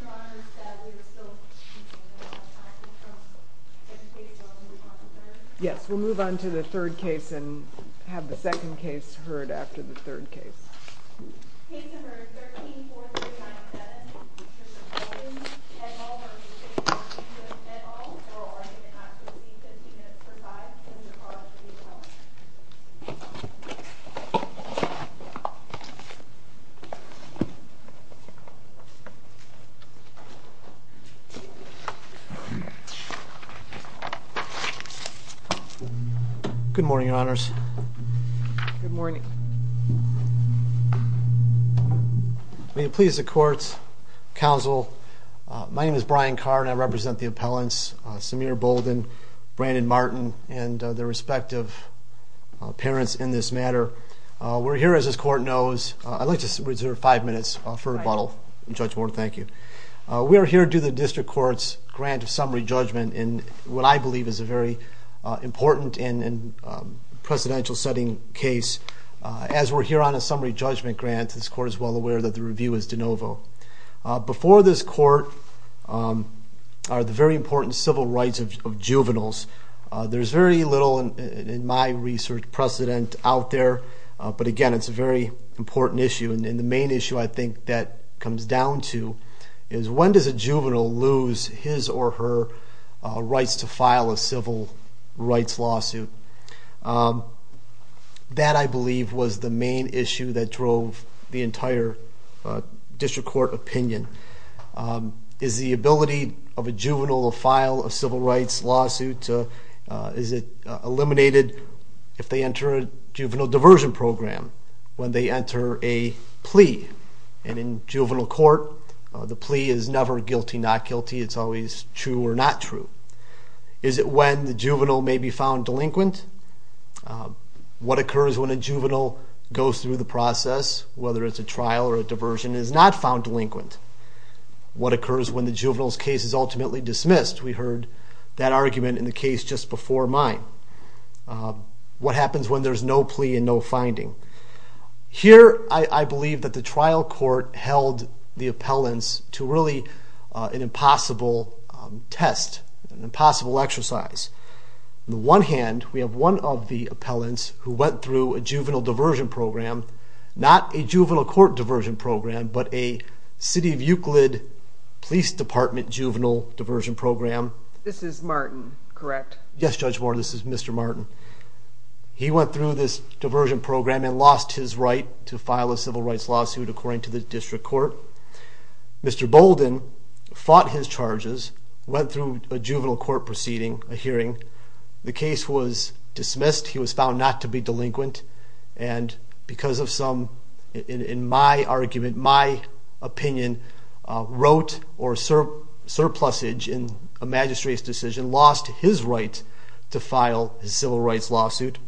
Your Honor, it is sad that we are still speaking about the passing from Edmund C. Bolden, who was on the 3rd. Yes, we'll move on to the 3rd case and have the 2nd case heard after the 3rd case. Case number 13-4397, Richard B. Bolden. Edmall v. City of Euclid. Edmall, oral argument not guilty. 15 minutes per side. Sends the charge to the attorney. Good morning, Your Honors. Good morning. May it please the courts, counsel, my name is Brian Carr and I represent the appellants, Samir Bolden, Brandon Martin, and their respective parents in this matter. We're here, as this court knows, I'd like to reserve 5 minutes for rebuttal. Judge Warren, thank you. We are here due the district court's grant of summary judgment in what I believe is a very important and presidential setting case. As we're here on a summary judgment grant, this court is well aware that the review is de novo. Before this court are the very important civil rights of juveniles. There's very little in my research precedent out there. But again, it's a very important issue. And the main issue I think that comes down to is when does a juvenile lose his or her rights to file a civil rights lawsuit? That I believe was the main issue that drove the entire district court opinion. Is the ability of a juvenile to file a civil rights lawsuit, is it eliminated if they enter a juvenile diversion program when they enter a plea? And in juvenile court, the plea is never guilty, not guilty. It's always true or not true. Is it when the juvenile may be found delinquent? What occurs when a juvenile goes through the process, whether it's a trial or a diversion, is not found delinquent? What occurs when the juvenile's case is ultimately dismissed? We heard that argument in the case just before mine. What happens when there's no plea and no finding? Here, I believe that the trial court held the appellants to really an impossible test, an impossible exercise. On the one hand, we have one of the appellants who went through a juvenile diversion program. Not a juvenile court diversion program, but a City of Euclid Police Department juvenile diversion program. This is Martin, correct? Yes, Judge Moore, this is Mr. Martin. He went through this diversion program and lost his right to file a civil rights lawsuit according to the district court. Mr. Bolden fought his charges, went through a juvenile court proceeding, a hearing. The case was dismissed. He was found not to be delinquent and because of some, in my argument, my opinion, wrote or surplusage in a magistrate's decision, lost his right to file a civil rights lawsuit.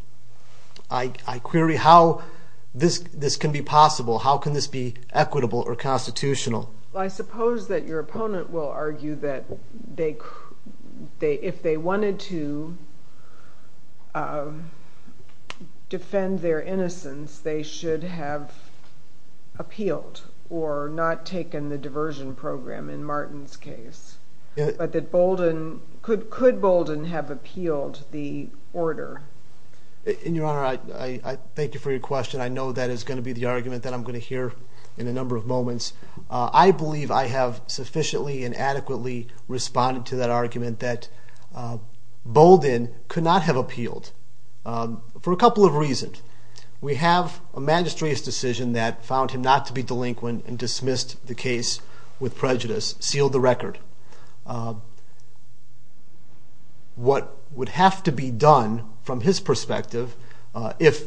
I query how this can be possible. How can this be equitable or constitutional? I suppose that your opponent will argue that if they wanted to defend their innocence, they should have appealed or not taken the diversion program in Martin's case. But could Bolden have appealed the order? Your Honor, I thank you for your question. I know that is going to be the argument that I'm going to hear in a number of moments. I believe I have sufficiently and adequately responded to that argument that Bolden could not have appealed for a couple of reasons. We have a magistrate's decision that found him not to be delinquent and dismissed the case with prejudice, sealed the record. What would have to be done from his perspective if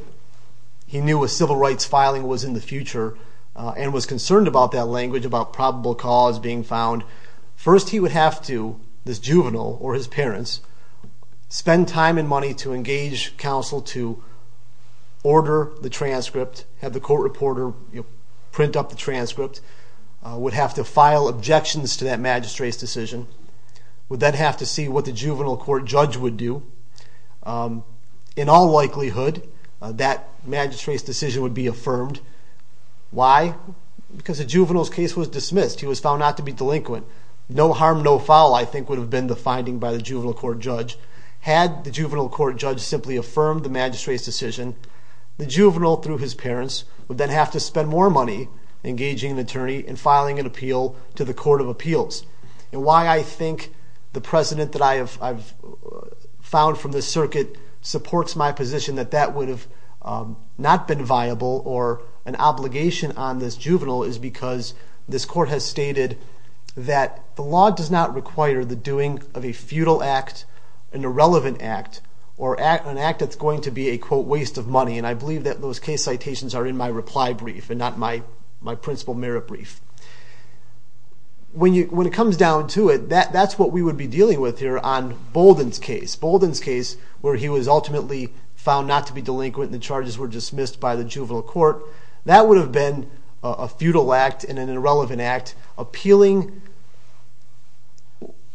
he knew a civil rights filing was in the future and was concerned about that language about probable cause being found, first he would have to, this juvenile or his parents, spend time and money to engage counsel to order the transcript, have the court reporter print up the transcript, would have to file objections to that magistrate's decision, would then have to see what the juvenile court judge would do. In all likelihood, that magistrate's decision would be affirmed. Why? Because the juvenile's case was dismissed. He was found not to be delinquent. No harm, no foul, I think, would have been the finding by the juvenile court judge. The juvenile, through his parents, would then have to spend more money engaging an attorney and filing an appeal to the court of appeals. Why I think the precedent that I have found from this circuit supports my position that that would have not been viable or an obligation on this juvenile is because this court has stated that the law does not require the doing of a futile act, an irrelevant act, or an act that's going to be a, quote, waste of money. And I believe that those case citations are in my reply brief and not my principal merit brief. When it comes down to it, that's what we would be dealing with here on Bolden's case. Bolden's case, where he was ultimately found not to be delinquent and the charges were dismissed by the juvenile court, that would have been a futile act and an irrelevant act appealing,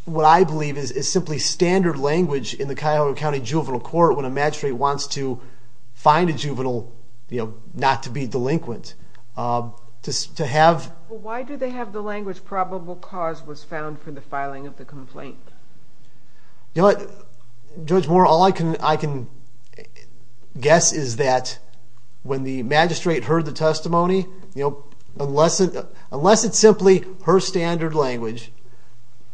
what I believe is simply standard language in the Cuyahoga County Juvenile Court when a magistrate wants to find a juvenile not to be delinquent. Why do they have the language probable cause was found for the filing of the complaint? Judge Moore, all I can guess is that when the magistrate heard the testimony, unless it's simply her standard language,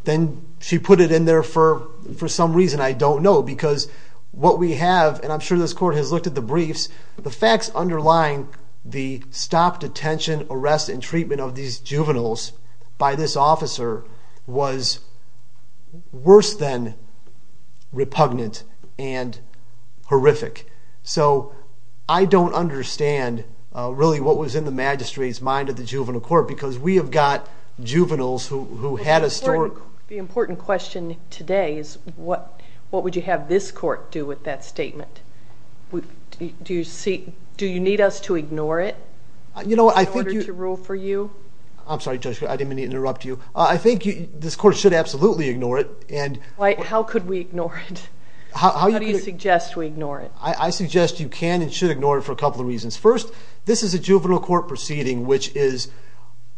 then she put it in there for some reason, I don't know. Because what we have, and I'm sure this court has looked at the briefs, the facts underlying the stop, detention, arrest, and treatment of these juveniles by this officer was worse than repugnant and horrific. I don't understand really what was in the magistrate's mind of the juvenile court because we have got juveniles who had a story. The important question today is what would you have this court do with that statement? Do you need us to ignore it in order to rule for you? I'm sorry, Judge, I didn't mean to interrupt you. I think this court should absolutely ignore it. How could we ignore it? How do you suggest we ignore it? I suggest you can and should ignore it for a couple of reasons. First, this is a juvenile court proceeding, which is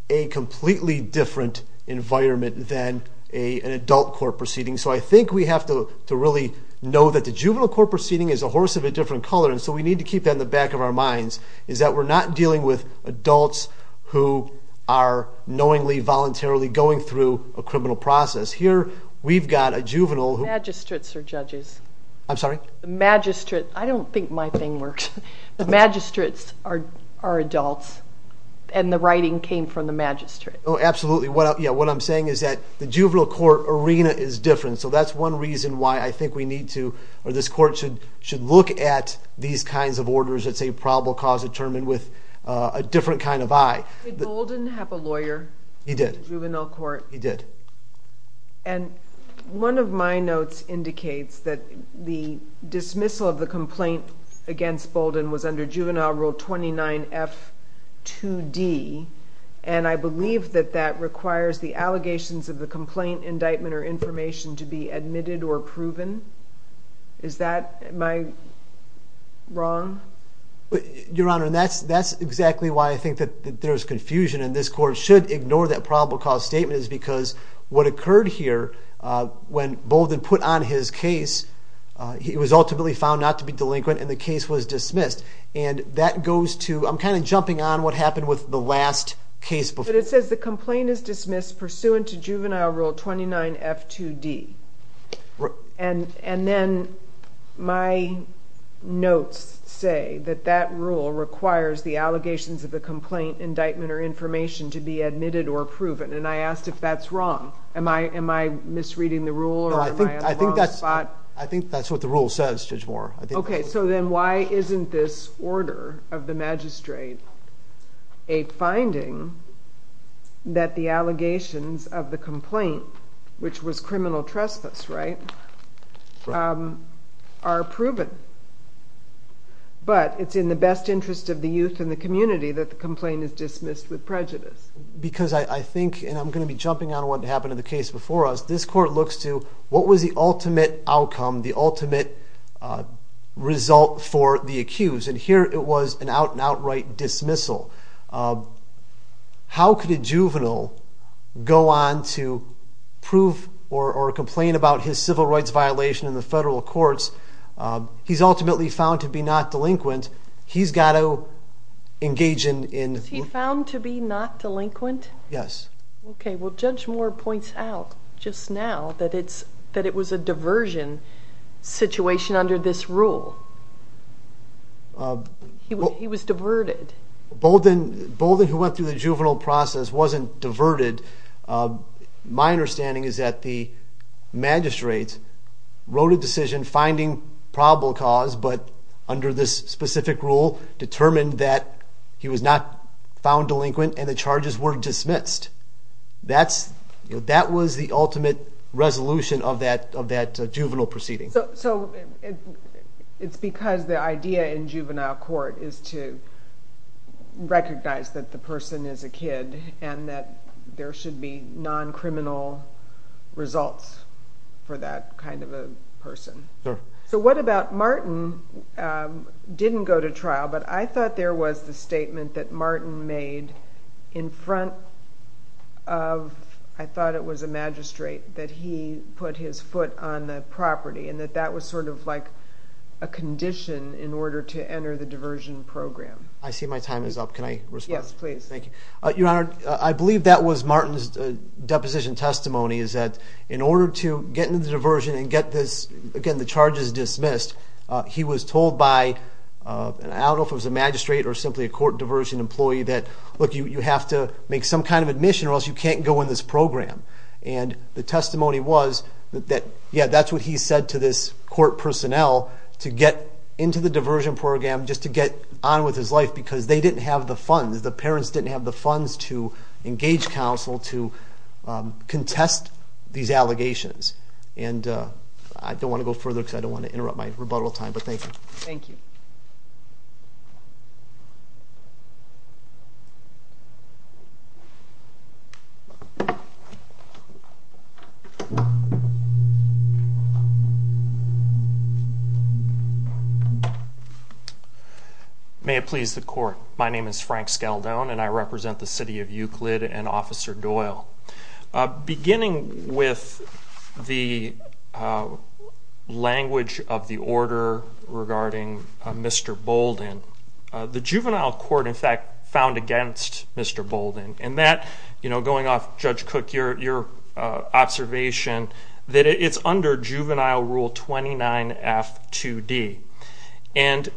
a completely different environment than an adult court proceeding. So I think we have to really know that the juvenile court proceeding is a horse of a different color, and so we need to keep that in the back of our minds, is that we're not dealing with adults who are knowingly, voluntarily going through a criminal process. Here we've got a juvenile who... Magistrates are judges. I'm sorry? Magistrate. I don't think my thing works. Magistrates are adults, and the writing came from the magistrate. Oh, absolutely. What I'm saying is that the juvenile court arena is different, so that's one reason why I think we need to or this court should look at these kinds of orders that say probable cause determined with a different kind of eye. Did Golden have a lawyer? He did. In the juvenile court? He did. And one of my notes indicates that the dismissal of the complaint against Bolden was under juvenile rule 29F2D, and I believe that that requires the allegations of the complaint, indictment, or information to be admitted or proven. Is that my wrong? Your Honor, that's exactly why I think that there's confusion, and this court should ignore that probable cause statement is because what occurred here when Bolden put on his case, it was ultimately found not to be delinquent, and the case was dismissed. And that goes to, I'm kind of jumping on what happened with the last case. But it says the complaint is dismissed pursuant to juvenile rule 29F2D. And then my notes say that that rule requires the allegations of the complaint, indictment, or information to be admitted or proven, and I asked if that's wrong. Am I misreading the rule or am I in the wrong spot? I think that's what the rule says, Judge Moore. Okay, so then why isn't this order of the magistrate a finding that the allegations of the complaint, which was criminal trespass, right, are proven? But it's in the best interest of the youth and the community that the complaint is dismissed with prejudice. Because I think, and I'm going to be jumping on what happened in the case before us, this court looks to what was the ultimate outcome, the ultimate result for the accused. And here it was an outright dismissal. How could a juvenile go on to prove or complain about his civil rights violation in the federal courts? He's ultimately found to be not delinquent. He's got to engage in... Was he found to be not delinquent? Yes. Okay, well, Judge Moore points out just now that it was a diversion situation under this rule. He was diverted. Bolden, who went through the juvenile process, wasn't diverted. My understanding is that the magistrate wrote a decision finding probable cause, but under this specific rule determined that he was not found delinquent and the charges were dismissed. That was the ultimate resolution of that juvenile proceeding. So it's because the idea in juvenile court is to recognize that the person is a kid and that there should be non-criminal results for that kind of a person. So what about Martin didn't go to trial, but I thought there was the statement that Martin made in front of, I thought it was a magistrate, that he put his foot on the property and that that was sort of like a condition in order to enter the diversion program. I see my time is up. Can I respond? Yes, please. Thank you. Your Honor, I believe that was Martin's deposition testimony, is that in order to get into the diversion and get the charges dismissed, he was told by, I don't know if it was a magistrate or simply a court diversion employee, that, look, you have to make some kind of admission or else you can't go in this program. And the testimony was that, yeah, that's what he said to this court personnel to get into the diversion program just to get on with his life because they didn't have the funds, the parents didn't have the funds to engage counsel to contest these allegations. And I don't want to go further because I don't want to interrupt my rebuttal time, but thank you. Thank you. May it please the Court. My name is Frank Skeldone, and I represent the City of Euclid and Officer Doyle. Beginning with the language of the order regarding Mr. Bolden, the juvenile court, in fact, found against Mr. Bolden, going off Judge Cook, your observation, that it's under Juvenile Rule 29F2D. And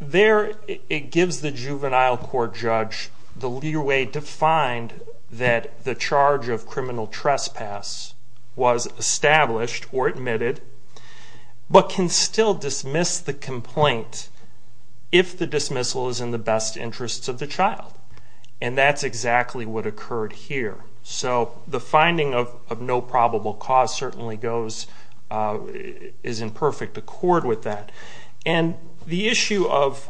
there it gives the juvenile court judge the leeway to find that the charge of criminal trespass was established or admitted but can still dismiss the complaint if the dismissal is in the best interests of the child. And that's exactly what occurred here. So the finding of no probable cause certainly goes, is in perfect accord with that. And the issue of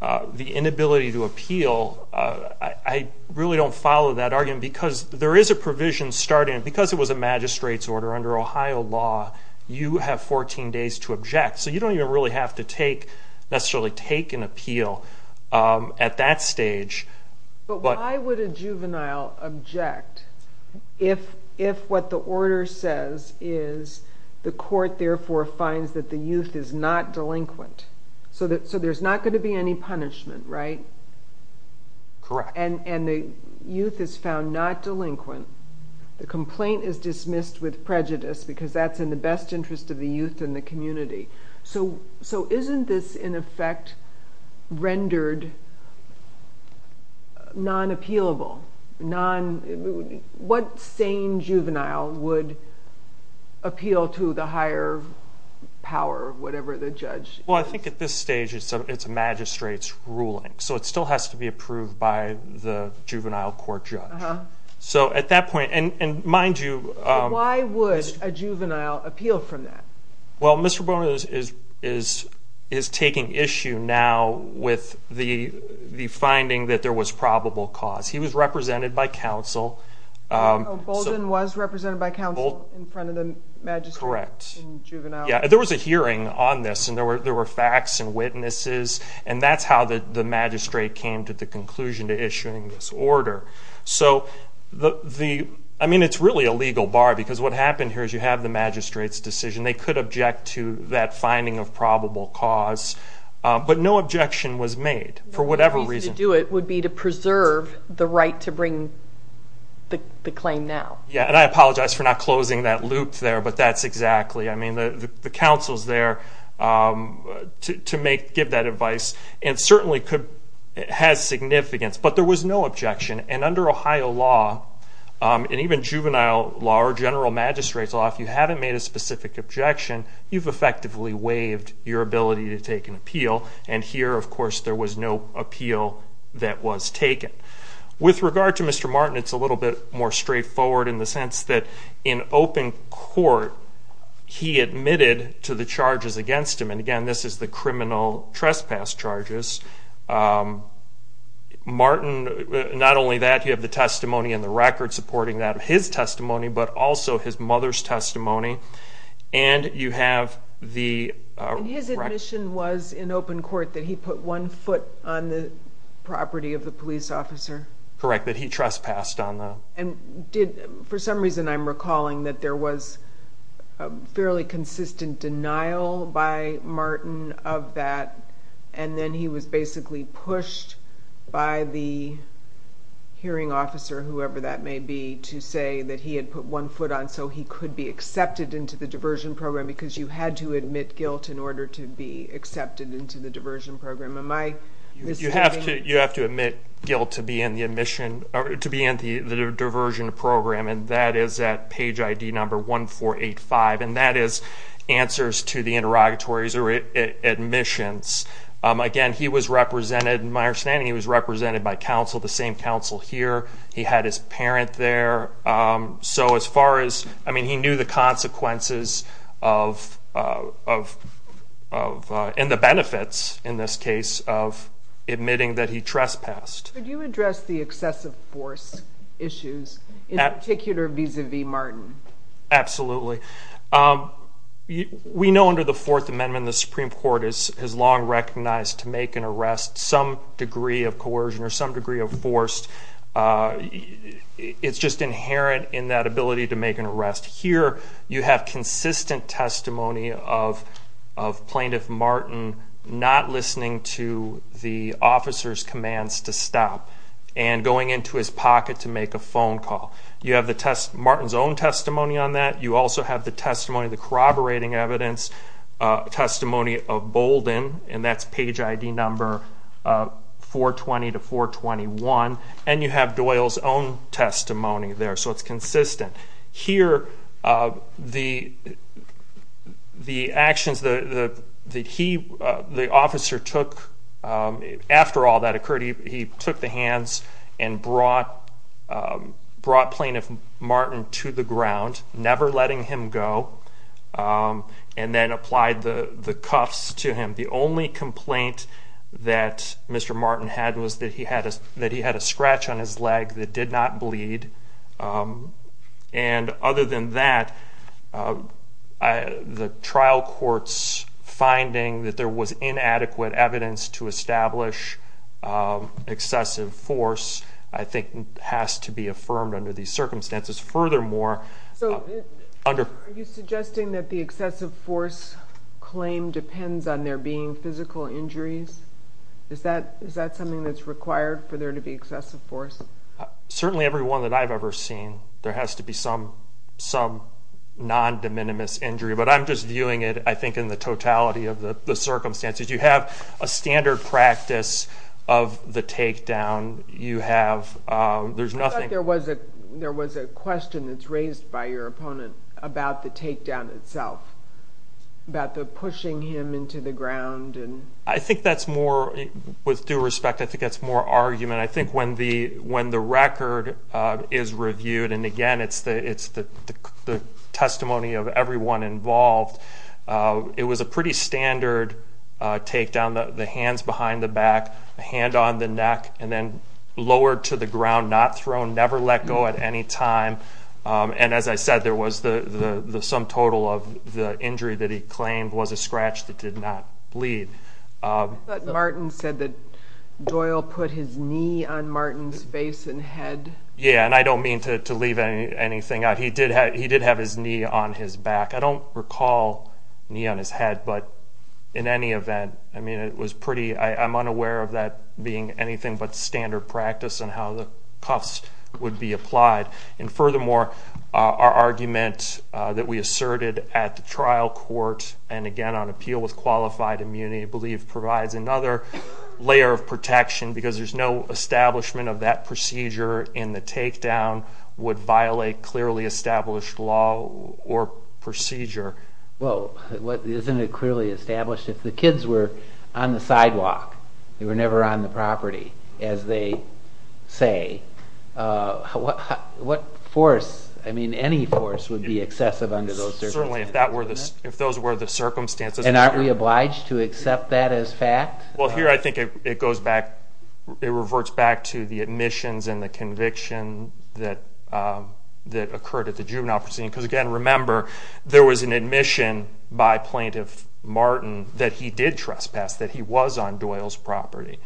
the inability to appeal, I really don't follow that argument because there is a provision starting, because it was a magistrate's order under Ohio law, you have 14 days to object. So you don't even really have to necessarily take an appeal at that stage. But why would a juvenile object if what the order says is the court, therefore, finds that the youth is not delinquent? So there's not going to be any punishment, right? Correct. And the youth is found not delinquent. The complaint is dismissed with prejudice because that's in the best interest of the youth and the community. So isn't this, in effect, rendered non-appealable? What sane juvenile would appeal to the higher power, whatever the judge is? Well, I think at this stage it's a magistrate's ruling, so it still has to be approved by the juvenile court judge. So at that point, and mind you, why would a juvenile appeal from that? Well, Mr. Bolden is taking issue now with the finding that there was probable cause. He was represented by counsel. Oh, Bolden was represented by counsel in front of the magistrate? Correct. There was a hearing on this, and there were facts and witnesses, and that's how the magistrate came to the conclusion to issuing this order. So, I mean, it's really a legal bar, because what happened here is you have the magistrate's decision. They could object to that finding of probable cause, but no objection was made for whatever reason. The reason to do it would be to preserve the right to bring the claim now. Yeah, and I apologize for not closing that loop there, but that's exactly. I mean, the counsel's there to give that advice, and certainly it has significance, but there was no objection, and under Ohio law, and even juvenile law or general magistrate's law, if you haven't made a specific objection, you've effectively waived your ability to take an appeal, and here, of course, there was no appeal that was taken. With regard to Mr. Martin, it's a little bit more straightforward in the sense that in open court he admitted to the charges against him, and, again, this is the criminal trespass charges. Martin, not only that, you have the testimony in the record supporting that of his testimony, but also his mother's testimony, and you have the record. And his admission was in open court that he put one foot on the property of the police officer? Correct, that he trespassed on the. And for some reason I'm recalling that there was fairly consistent denial by Martin of that, and then he was basically pushed by the hearing officer, whoever that may be, to say that he had put one foot on so he could be accepted into the diversion program because you had to admit guilt in order to be accepted into the diversion program. You have to admit guilt to be in the diversion program, and that is at page ID number 1485, and that is answers to the interrogatories or admissions. Again, he was represented, in my understanding, he was represented by counsel, the same counsel here. He had his parent there. So as far as, I mean, he knew the consequences of, and the benefits, in this case, of admitting that he trespassed. Could you address the excessive force issues, in particular vis-à-vis Martin? Absolutely. We know under the Fourth Amendment the Supreme Court has long recognized to make an arrest some degree of coercion or some degree of force. It's just inherent in that ability to make an arrest. Here you have consistent testimony of Plaintiff Martin not listening to the officer's commands to stop and going into his pocket to make a phone call. You have Martin's own testimony on that. You also have the corroborating evidence testimony of Bolden, and that's page ID number 420 to 421. And you have Doyle's own testimony there, so it's consistent. Here, the actions that he, the officer took, after all that occurred, he took the hands and brought Plaintiff Martin to the ground, never letting him go, and then applied the cuffs to him. The only complaint that Mr. Martin had was that he had a scratch on his leg that did not bleed. And other than that, the trial court's finding that there was inadequate evidence to establish excessive force I think has to be affirmed under these circumstances. Furthermore, under... So are you suggesting that the excessive force claim depends on there being physical injuries? Is that something that's required for there to be excessive force? Certainly every one that I've ever seen, there has to be some non-de minimis injury. But I'm just viewing it, I think, in the totality of the circumstances. You have a standard practice of the takedown. You have, there's nothing... I thought there was a question that's raised by your opponent about the takedown itself, about the pushing him into the ground. I think that's more, with due respect, I think that's more argument. And I think when the record is reviewed, and again, it's the testimony of everyone involved, it was a pretty standard takedown, the hands behind the back, the hand on the neck, and then lowered to the ground, not thrown, never let go at any time. And as I said, there was the sum total of the injury that he claimed was a scratch that did not bleed. Martin said that Doyle put his knee on Martin's face and head. Yeah, and I don't mean to leave anything out. He did have his knee on his back. I don't recall knee on his head, but in any event, I mean, it was pretty, I'm unaware of that being anything but standard practice and how the cuffs would be applied. And furthermore, our argument that we asserted at the trial court, and again, on appeal with qualified immunity, I believe provides another layer of protection because there's no establishment of that procedure, and the takedown would violate clearly established law or procedure. Well, isn't it clearly established? If the kids were on the sidewalk, they were never on the property, as they say, what force, I mean, any force would be excessive under those circumstances? Certainly, if those were the circumstances. And aren't we obliged to accept that as fact? Well, here I think it goes back, it reverts back to the admissions and the conviction that occurred at the juvenile proceeding. Because again, remember, there was an admission by Plaintiff Martin that he did trespass, that he was on Doyle's property.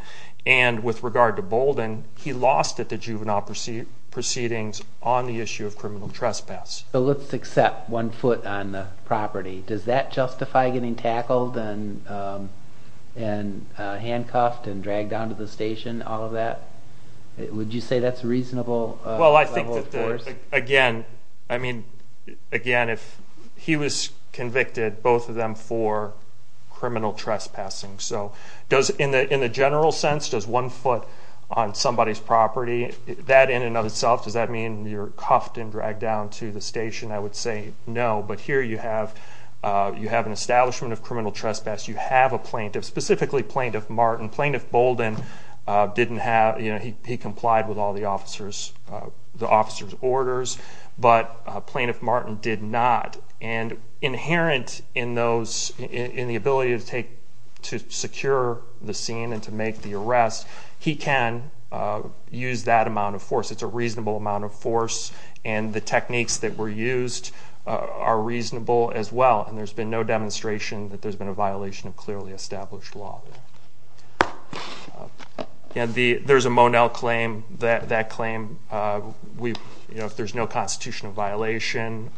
And with regard to Bolden, he lost at the juvenile proceedings on the issue of criminal trespass. But let's accept one foot on the property. Does that justify getting tackled and handcuffed and dragged down to the station, all of that? Would you say that's a reasonable level of force? Well, I think that, again, I mean, again, if he was convicted, both of them for criminal trespassing. So in the general sense, does one foot on somebody's property, that in and of itself, does that mean you're cuffed and dragged down to the station? I would say no. But here you have an establishment of criminal trespass. You have a plaintiff, specifically Plaintiff Martin. Plaintiff Bolden didn't have, you know, he complied with all the officer's orders, but Plaintiff Martin did not. And inherent in the ability to secure the scene and to make the arrest, he can use that amount of force. It's a reasonable amount of force, and the techniques that were used are reasonable as well. And there's been no demonstration that there's been a violation of clearly established law. Again, there's a Monell claim. That claim, you know, if there's no constitutional violation,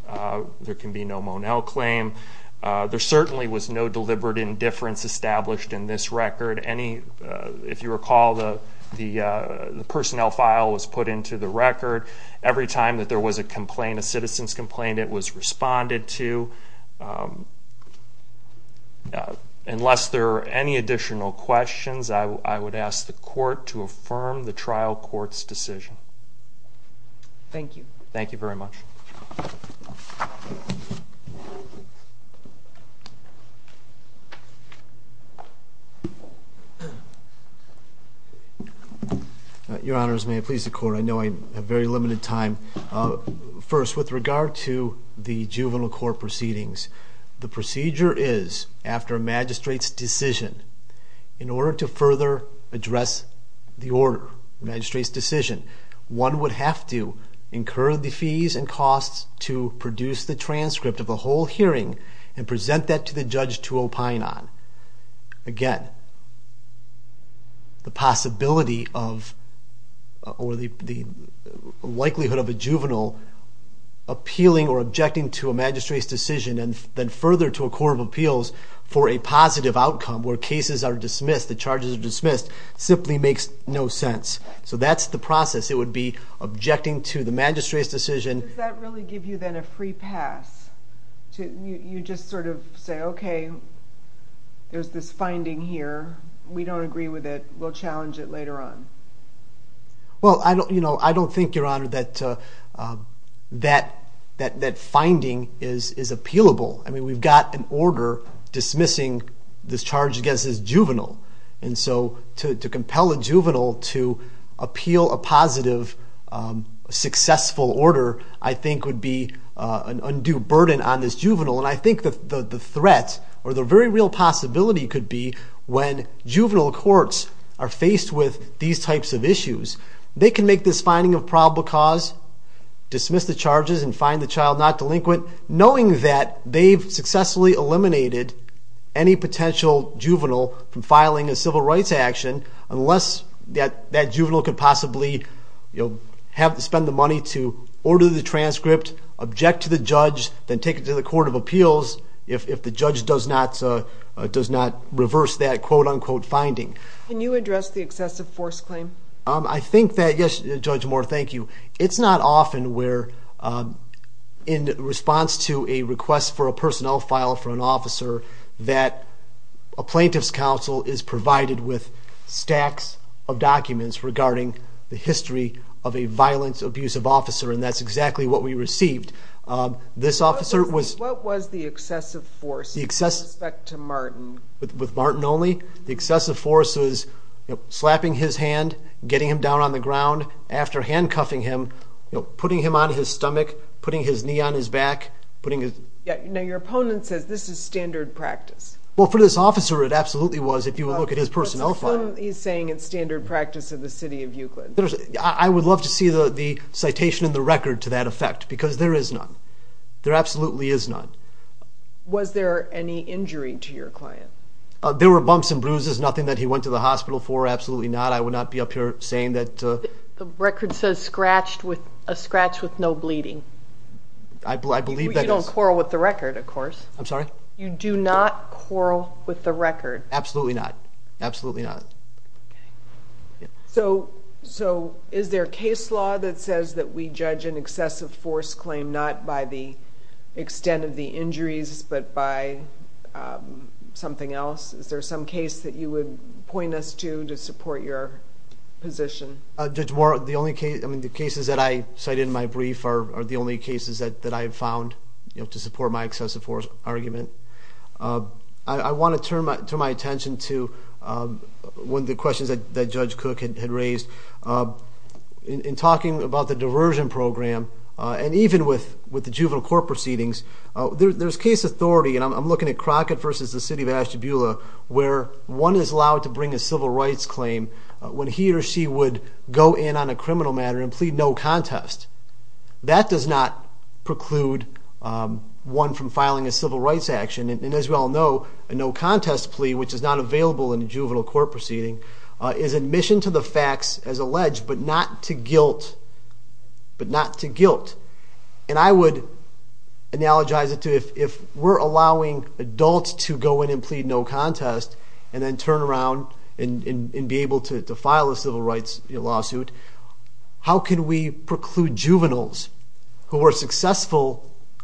there can be no Monell claim. There certainly was no deliberate indifference established in this record. If you recall, the personnel file was put into the record. Every time that there was a complaint, a citizen's complaint, it was responded to. Unless there are any additional questions, I would ask the court to affirm the trial court's decision. Thank you. Thank you very much. Your Honors, may I please the court? I know I have very limited time. First, with regard to the juvenile court proceedings, the procedure is, after a magistrate's decision, in order to further address the order, magistrate's decision, one would have to incur the fees and costs to produce the transcript of the whole hearing and present that to the judge to opine on. Again, the possibility or the likelihood of a juvenile appealing or objecting to a magistrate's decision and then further to a court of appeals for a positive outcome where cases are dismissed, the charges are dismissed, simply makes no sense. So that's the process. It would be objecting to the magistrate's decision. Does that really give you then a free pass? You just sort of say, okay, there's this finding here. We don't agree with it. We'll challenge it later on. Well, I don't think, Your Honor, that that finding is appealable. I mean, we've got an order dismissing this charge against this juvenile. And so to compel a juvenile to appeal a positive, successful order I think would be an undue burden on this juvenile. And I think the threat or the very real possibility could be when juvenile courts are faced with these types of issues, they can make this finding of probable cause, dismiss the charges and find the child not delinquent, knowing that they've successfully eliminated any potential juvenile from filing a civil rights action unless that juvenile could possibly spend the money to order the transcript, object to the judge, then take it to the court of appeals if the judge does not reverse that quote-unquote finding. Can you address the excessive force claim? I think that, yes, Judge Moore, thank you. It's not often where, in response to a request for a personnel file for an officer, that a plaintiff's counsel is provided with stacks of documents regarding the history of a violence-abusive officer, and that's exactly what we received. What was the excessive force with respect to Martin? With Martin only? The excessive force was slapping his hand, getting him down on the ground, after handcuffing him, putting him on his stomach, putting his knee on his back, putting his... Now, your opponent says this is standard practice. Well, for this officer it absolutely was if you would look at his personnel file. What's the film he's saying is standard practice of the city of Euclid? I would love to see the citation in the record to that effect because there is none. There absolutely is none. Was there any injury to your client? There were bumps and bruises, nothing that he went to the hospital for, absolutely not. I would not be up here saying that. The record says a scratch with no bleeding. I believe that is. You don't quarrel with the record, of course. I'm sorry? You do not quarrel with the record. Absolutely not, absolutely not. So is there a case law that says that we judge an excessive force claim not by the extent of the injuries but by something else? Is there some case that you would point us to to support your position? Judge Warren, the cases that I cited in my brief are the only cases that I have found to support my excessive force argument. I want to turn my attention to one of the questions that Judge Cook had raised. In talking about the diversion program and even with the juvenile court proceedings, there's case authority, and I'm looking at Crockett v. The City of Ashtabula, where one is allowed to bring a civil rights claim when he or she would go in on a criminal matter and plead no contest. That does not preclude one from filing a civil rights action. And as we all know, a no contest plea, which is not available in a juvenile court proceeding, is admission to the facts as alleged but not to guilt. And I would analogize it to if we're allowing adults to go in and plead no contest and then turn around and be able to file a civil rights lawsuit, how can we preclude juveniles who are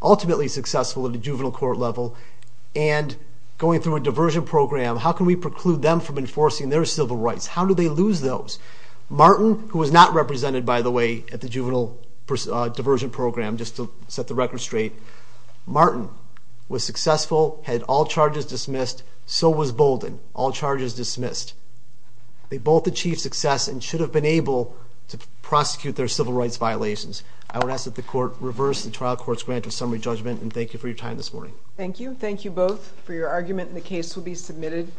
ultimately successful at the juvenile court level and going through a diversion program, how can we preclude them from enforcing their civil rights? How do they lose those? Martin, who was not represented, by the way, at the juvenile diversion program, just to set the record straight, Martin was successful, had all charges dismissed, so was Bolden, all charges dismissed. They both achieved success and should have been able to prosecute their civil rights violations. I would ask that the court reverse the trial court's grant of summary judgment, and thank you for your time this morning. Thank you. Thank you both for your argument, and the case will be submitted.